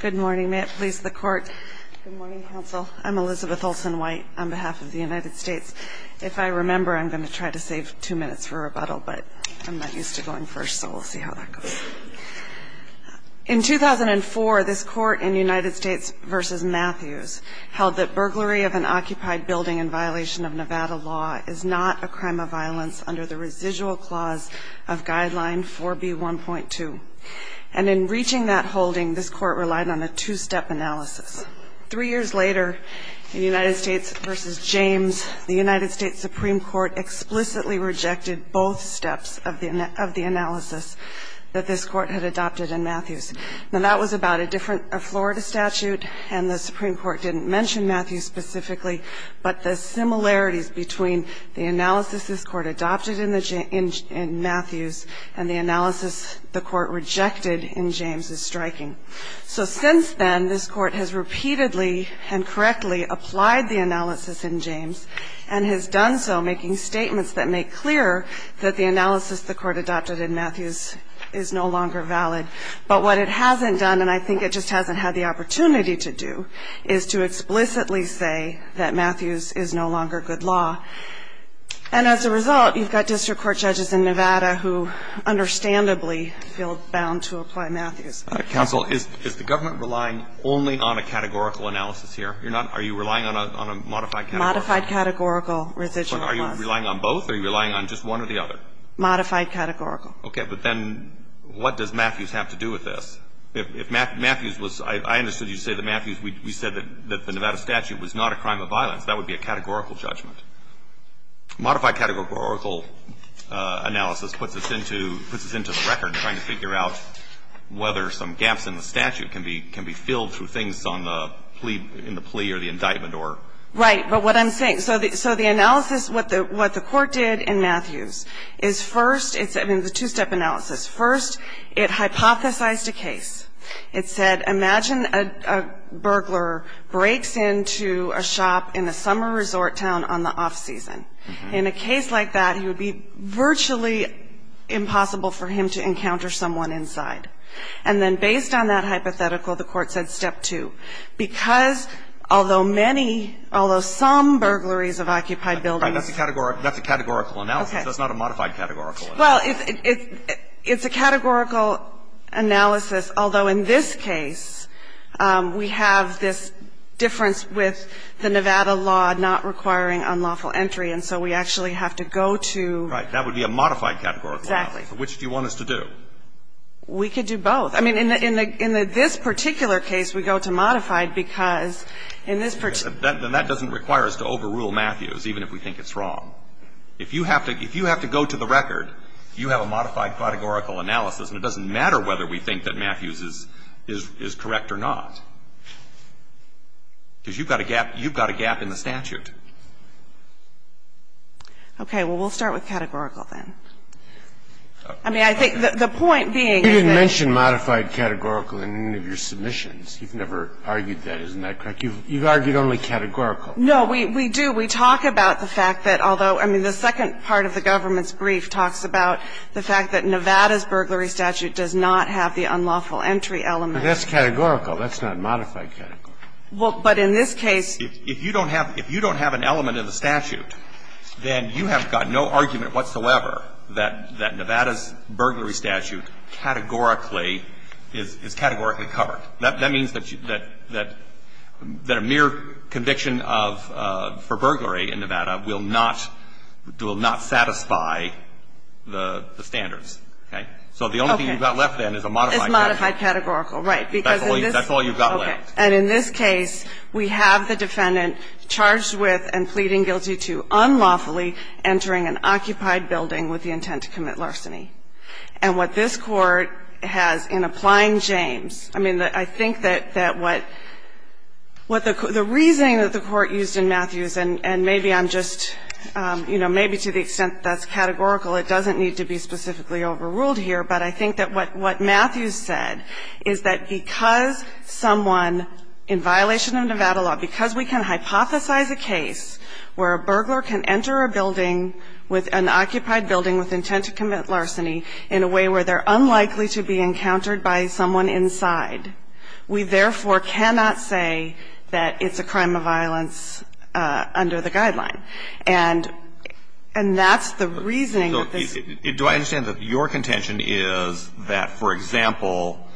Good morning. May it please the Court. Good morning, Counsel. I'm Elizabeth Olsen-White on behalf of the United States. If I remember, I'm going to try to save two minutes for rebuttal, but I'm not used to going first, so we'll see how that goes. In 2004, this Court in United States v. Matthews held that burglary of an occupied building in violation of Nevada law is not a crime of violence under the residual clause of Guideline 4B1.2. And in reaching that holding, this Court relied on a two-step analysis. Three years later, in United States v. James, the United States Supreme Court explicitly rejected both steps of the analysis that this Court had adopted in Matthews. Now, that was about a different Florida statute, and the Supreme Court didn't mention Matthews specifically, but the similarities between the analysis this Court adopted in Matthews and the analysis the Court rejected in James is striking. So since then, this Court has repeatedly and correctly applied the analysis in James and has done so making statements that make clear that the analysis the Court adopted in Matthews is no longer valid. But what it hasn't done, and I think it just hasn't had the opportunity to do, is to explicitly say that Matthews is no longer good law. And as a result, you've got district court judges in Nevada who understandably feel bound to apply Matthews. Counsel, is the government relying only on a categorical analysis here? Are you relying on a modified categorical? Modified categorical residual clause. Are you relying on both, or are you relying on just one or the other? Modified categorical. Okay. But then what does Matthews have to do with this? If Matthews was – I understood you to say that Matthews, we said that the Nevada statute was not a crime of violence. That would be a categorical judgment. Modified categorical analysis puts this into the record, trying to figure out whether some gaps in the statute can be filled through things on the plea or the indictment Right. But what I'm saying – so the analysis, what the court did in Matthews is first – it's a two-step analysis. First, it hypothesized a case. It said, imagine a burglar breaks into a shop in a summer resort town on the off season. In a case like that, it would be virtually impossible for him to encounter someone inside. And then based on that hypothetical, the court said step two. Because although many – although some burglaries of occupied buildings Right. That's a categorical analysis. That's not a modified categorical analysis. Well, it's a categorical analysis, although in this case, we have this difference with the Nevada law not requiring unlawful entry, and so we actually have to go to Right. That would be a modified categorical analysis. Which do you want us to do? We could do both. I mean, in this particular case, we go to modified because in this particular Then that doesn't require us to overrule Matthews, even if we think it's wrong. If you have to go to the record, you have a modified categorical analysis, and it doesn't matter whether we think that Matthews is correct or not, because you've got a gap in the statute. Okay. Well, we'll start with categorical then. I mean, I think the point being is that You've never argued that, isn't that correct? You've argued only categorical. No, we do. We talk about the fact that although the second part of the government's brief talks about the fact that Nevada's burglary statute does not have the unlawful entry element. That's categorical. That's not modified categorical. But in this case If you don't have an element in the statute, then you have got no argument whatsoever that Nevada's burglary statute categorically is categorically covered. That means that a mere conviction for burglary in Nevada will not satisfy the standards. Okay. So the only thing you've got left then is a modified categorical. It's modified categorical, right. Because in this That's all you've got left. Okay. And in this case, we have the defendant charged with and pleading guilty to unlawfully entering an occupied building with the intent to commit larceny. And what this Court has in applying James, I mean, I think that what the reasoning that the Court used in Matthews, and maybe I'm just, you know, maybe to the extent that that's categorical, it doesn't need to be specifically overruled here, but I think that what Matthews said is that because someone in violation of Nevada law, because we can hypothesize a case where a burglar can enter a building with an occupied building with intent to commit larceny in a way where they're unlikely to be encountered by someone inside, we therefore cannot say that it's a crime of violence under the guideline. And that's the reasoning that this Do I understand that your contention is that, for example,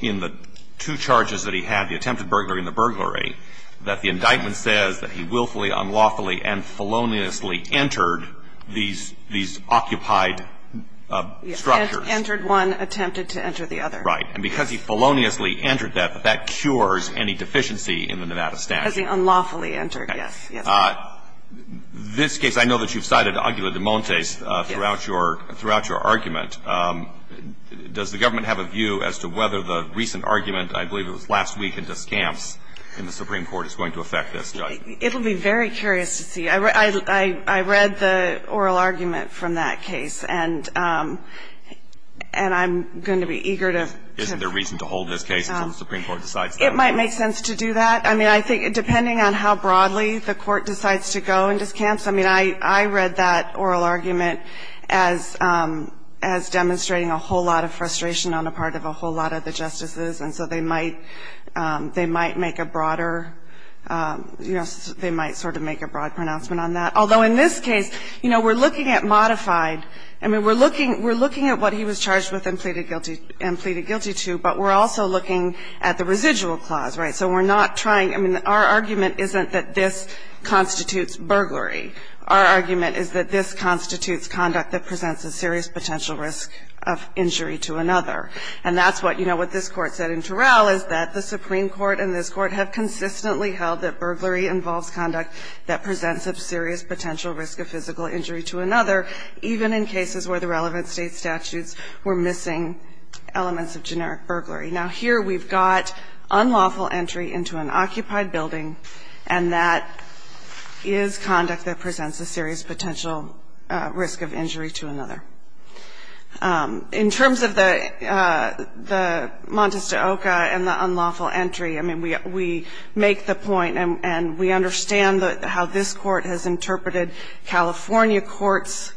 in the two charges that we had, the attempted burglary and the burglary, that the indictment says that he willfully, unlawfully, and feloniously entered these occupied structures. Entered one, attempted to enter the other. Right. And because he feloniously entered that, that that cures any deficiency in the Nevada statute. Because he unlawfully entered. Okay. Yes. Yes. This case, I know that you've cited agula de montes throughout your argument. Does the government have a view as to whether the recent argument, I believe it was last week in Descamps in the Supreme Court, is going to affect this judgment? It will be very curious to see. I read the oral argument from that case, and I'm going to be eager to Isn't there reason to hold this case until the Supreme Court decides that? It might make sense to do that. I mean, I think depending on how broadly the court decides to go in Descamps, I mean, I read that oral argument as demonstrating a whole lot of frustration on the part of a whole lot of the justices. And so they might make a broader, you know, they might sort of make a broad pronouncement on that. Although in this case, you know, we're looking at modified. I mean, we're looking at what he was charged with and pleaded guilty to, but we're also looking at the residual clause. Right. So we're not trying. I mean, our argument isn't that this constitutes burglary. Our argument is that this constitutes conduct that presents a serious potential risk of injury to another. And that's what, you know, what this Court said in Terrell is that the Supreme Court and this Court have consistently held that burglary involves conduct that presents a serious potential risk of physical injury to another, even in cases where the relevant State statutes were missing elements of generic burglary. Now, here we've got unlawful entry into an occupied building, and that is conduct that presents a serious potential risk of injury to another. In terms of the Montes de Oca and the unlawful entry, I mean, we make the point and we understand how this Court has interpreted California courts'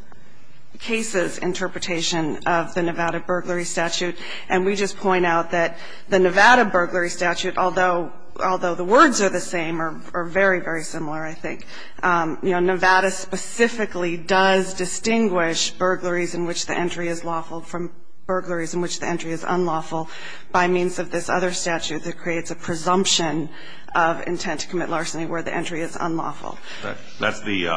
cases interpretation of the Nevada burglary statute, and we just point out that the Nevada burglary statute, although the words are the same, are very, very similar, I think. You know, Nevada specifically does distinguish burglaries in which the entry is lawful from burglaries in which the entry is unlawful by means of this other statute that creates a presumption of intent to commit larceny where the entry is unlawful. That's the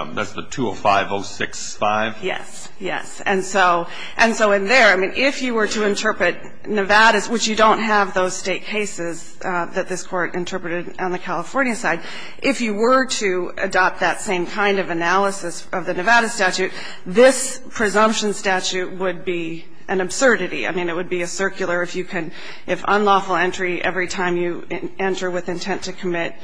205-065? Yes, yes. And so in there, I mean, if you were to interpret Nevada's, which you don't have those State cases that this Court interpreted on the California side, if you were to adopt that same kind of analysis of the Nevada statute, this presumption statute would be an absurdity. I mean, it would be a circular. If you can, if unlawful entry every time you enter with intent to commit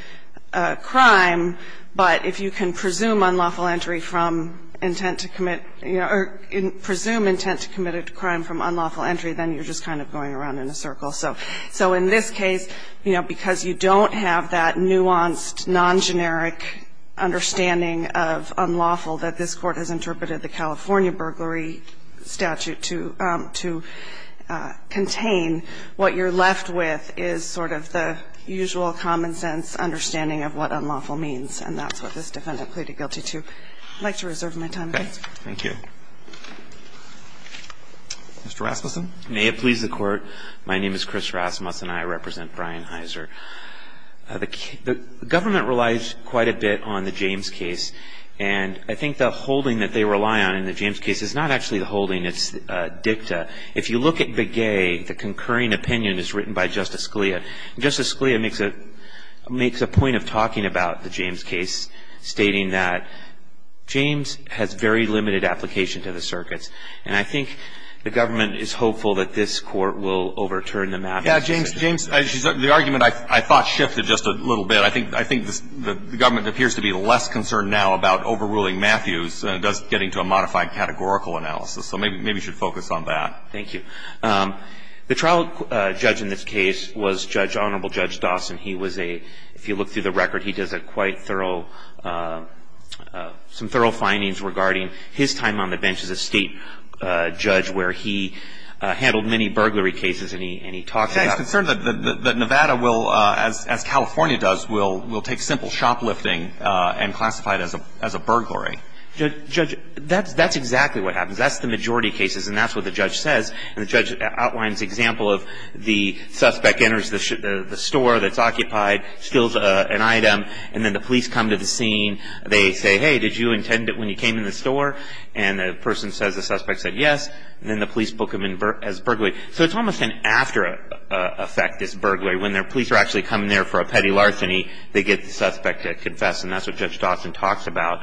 a crime, but if you can presume unlawful entry from intent to commit, you know, or presume intent to commit a crime from unlawful entry, then you're just kind of going around in a circle. So in this case, you know, because you don't have that nuanced, non-generic understanding of unlawful that this Court has interpreted the California burglary statute to contain, what you're left with is sort of the usual common-sense understanding of what unlawful means. And that's what this Defendant pleaded guilty to. I'd like to reserve my time. Thank you. Mr. Rasmussen. May it please the Court. My name is Chris Rasmussen. I represent Brian Heiser. The government relies quite a bit on the James case. And I think the holding that they rely on in the James case is not actually the holding. It's dicta. If you look at Begay, the concurring opinion is written by Justice Scalia. Justice Scalia makes a point of talking about the James case, stating that James has very limited application to the circuits. And I think the government is hopeful that this Court will overturn the Matthews decision. Yeah, James, James, the argument I thought shifted just a little bit. I think the government appears to be less concerned now about overruling Matthews than it does getting to a modified categorical analysis. So maybe you should focus on that. Thank you. The trial judge in this case was Judge, Honorable Judge Dawson. He was a, if you look through the record, he does a quite thorough, some thorough findings regarding his time on the bench as a state judge where he handled many burglary cases and he talked about them. He's concerned that Nevada will, as California does, will take simple shoplifting and classify it as a burglary. Judge, that's exactly what happens. That's the majority of cases, and that's what the judge says. And the judge outlines an example of the suspect enters the store that's occupied, steals an item, and then the police come to the scene. They say, hey, did you intend it when you came in the store? And the person says, the suspect said yes, and then the police book him as burglary. So it's almost an after effect, this burglary. When the police are actually coming there for a petty larceny, they get the suspect to confess, and that's what Judge Dawson talks about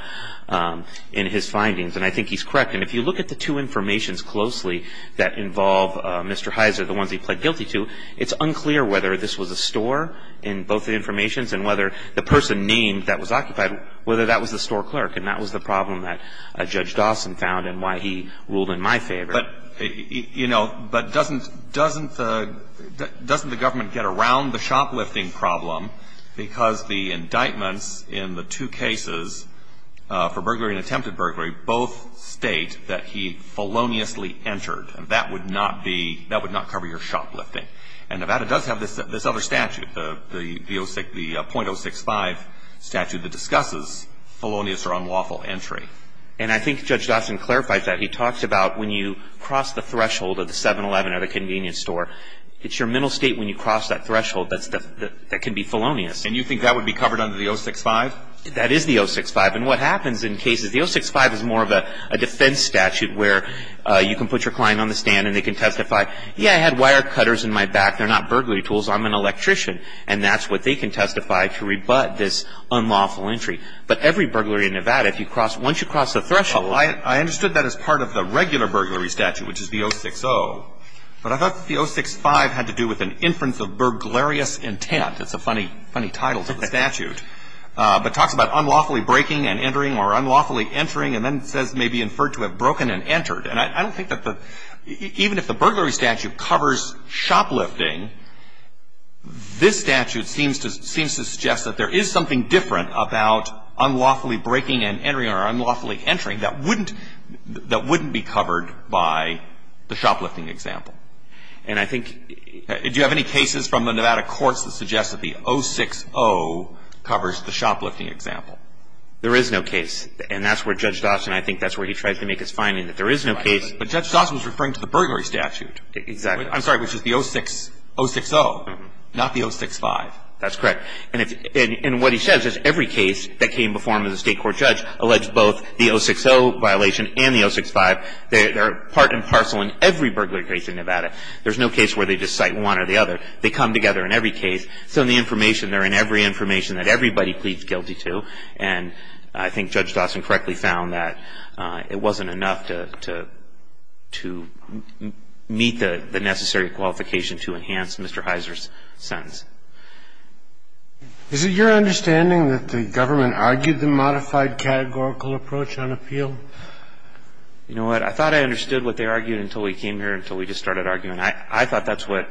in his findings. And I think he's correct. And if you look at the two informations closely that involve Mr. Heiser, the ones he pled guilty to, it's unclear whether this was a store in both the informations and whether the person named that was occupied, whether that was the store clerk. And that was the problem that Judge Dawson found and why he ruled in my favor. But, you know, but doesn't the government get around the shoplifting problem because the indictments in the two cases for burglary and attempted burglary both state that he feloniously entered, and that would not be – that would not cover your shoplifting. And Nevada does have this other statute, the .065 statute that discusses felonious or unlawful entry. And I think Judge Dawson clarified that. He talks about when you cross the threshold of the 7-11 or the convenience store, it's your mental state when you cross that threshold that can be felonious. And you think that would be covered under the 065? That is the 065. And what happens in cases – the 065 is more of a defense statute where you can put your client on the stand and they can testify, yeah, I had wire cutters in my back. They're not burglary tools. I'm an electrician. And that's what they can testify to rebut this unlawful entry. But every burglary in Nevada, if you cross – once you cross the threshold – Well, I understood that as part of the regular burglary statute, which is the 060. But I thought that the 065 had to do with an inference of burglarious intent. That's a funny title to the statute. But it talks about unlawfully breaking and entering or unlawfully entering. And then it says may be inferred to have broken and entered. And I don't think that the – even if the burglary statute covers shoplifting, this statute seems to suggest that there is something different about unlawfully breaking and entering or unlawfully entering that wouldn't – that wouldn't be covered by the shoplifting example. And I think – do you have any cases from the Nevada courts that suggest that the 060 covers the shoplifting example? There is no case. And that's where Judge Dotson – I think that's where he tries to make his finding that there is no case. But Judge Dotson was referring to the burglary statute. Exactly. I'm sorry, which is the 060, not the 065. That's correct. And if – and what he says is every case that came before him as a State court judge alleged both the 060 violation and the 065. They're part and parcel in every burglary case in Nevada. There's no case where they just cite one or the other. They come together in every case. So in the information, they're in every information that everybody pleads guilty to. And I think Judge Dotson correctly found that it wasn't enough to – to meet the necessary qualification to enhance Mr. Heiser's sentence. Is it your understanding that the government argued the modified categorical approach on appeal? You know what? I thought I understood what they argued until we came here, until we just started arguing. I thought that's what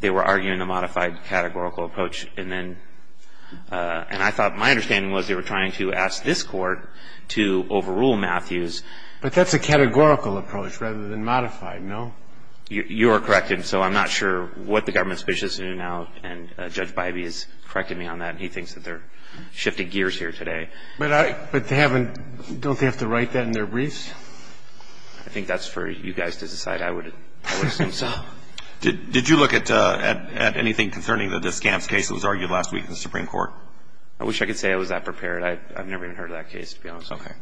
they were arguing, the modified categorical approach. And then – and I thought my understanding was they were trying to ask this court to overrule Matthews. But that's a categorical approach rather than modified, no? You are correct. And so I'm not sure what the government's position is now. And Judge Bybee has corrected me on that, and he thinks that they're shifting gears here today. But I – but they haven't – don't they have to write that in their briefs? I think that's for you guys to decide. I would – I would assume so. Did you look at – at anything concerning the Scamps case that was argued last week in the Supreme Court? I wish I could say I was that prepared. I've never even heard of that case, to be honest with you. Okay.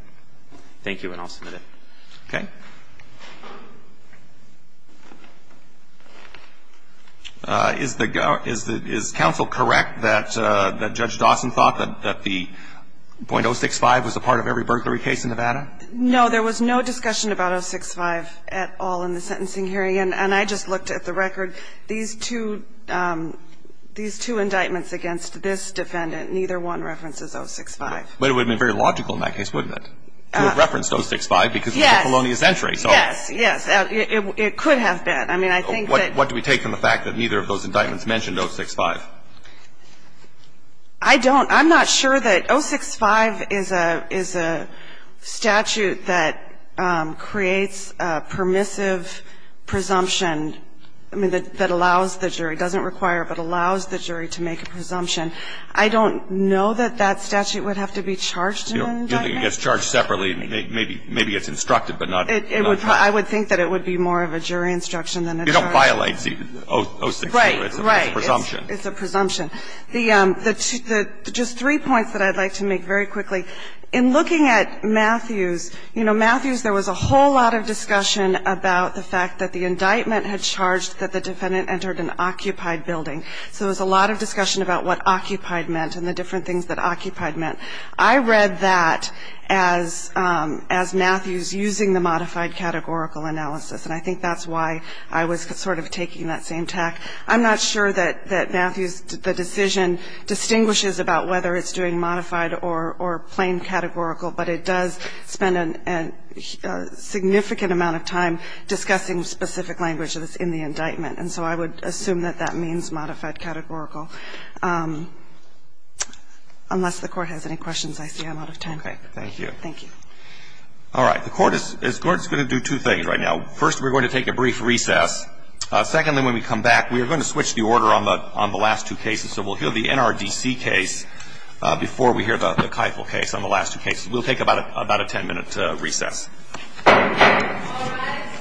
Thank you, and I'll submit it. Okay. Is the – is the – is counsel correct that Judge Dawson thought that the 0.065 was a part of every burglary case in Nevada? No, there was no discussion about 0.065 at all in the sentencing hearing. And I just looked at the record. These two – these two indictments against this defendant, neither one references 0.065. But it would have been very logical in that case, wouldn't it, to have referenced 0.065 because it was a colonial sentry. Yes. Yes. Yes. It could have been. I mean, I think that – What do we take from the fact that neither of those indictments mentioned 0.065? I don't. I'm not sure that – 0.065 is a – is a statute that creates a permissive presumption, I mean, that allows the jury – doesn't require, but allows the jury to make a presumption. I don't know that that statute would have to be charged in an indictment. You don't think it gets charged separately? Maybe it's instructed, but not – I would think that it would be more of a jury instruction than a charge. It don't violate 0.062. Right. Right. It's a presumption. It's a presumption. The – just three points that I'd like to make very quickly. In looking at Matthews, you know, Matthews, there was a whole lot of discussion about the fact that the indictment had charged that the defendant entered an occupied building. So there was a lot of discussion about what occupied meant and the different things that occupied meant. I read that as Matthews using the modified categorical analysis, and I think that's why I was sort of taking that same tack. I'm not sure that Matthews, the decision, distinguishes about whether it's doing modified or plain categorical, but it does spend a significant amount of time discussing specific languages in the indictment. And so I would assume that that means modified categorical. Unless the Court has any questions, I see I'm out of time. Okay. Thank you. Thank you. All right. The Court is going to do two things right now. First, we're going to take a brief recess. Secondly, when we come back, we are going to switch the order on the last two cases. So we'll hear the NRDC case before we hear the Keifel case on the last two cases. We'll take about a ten-minute recess. All rise.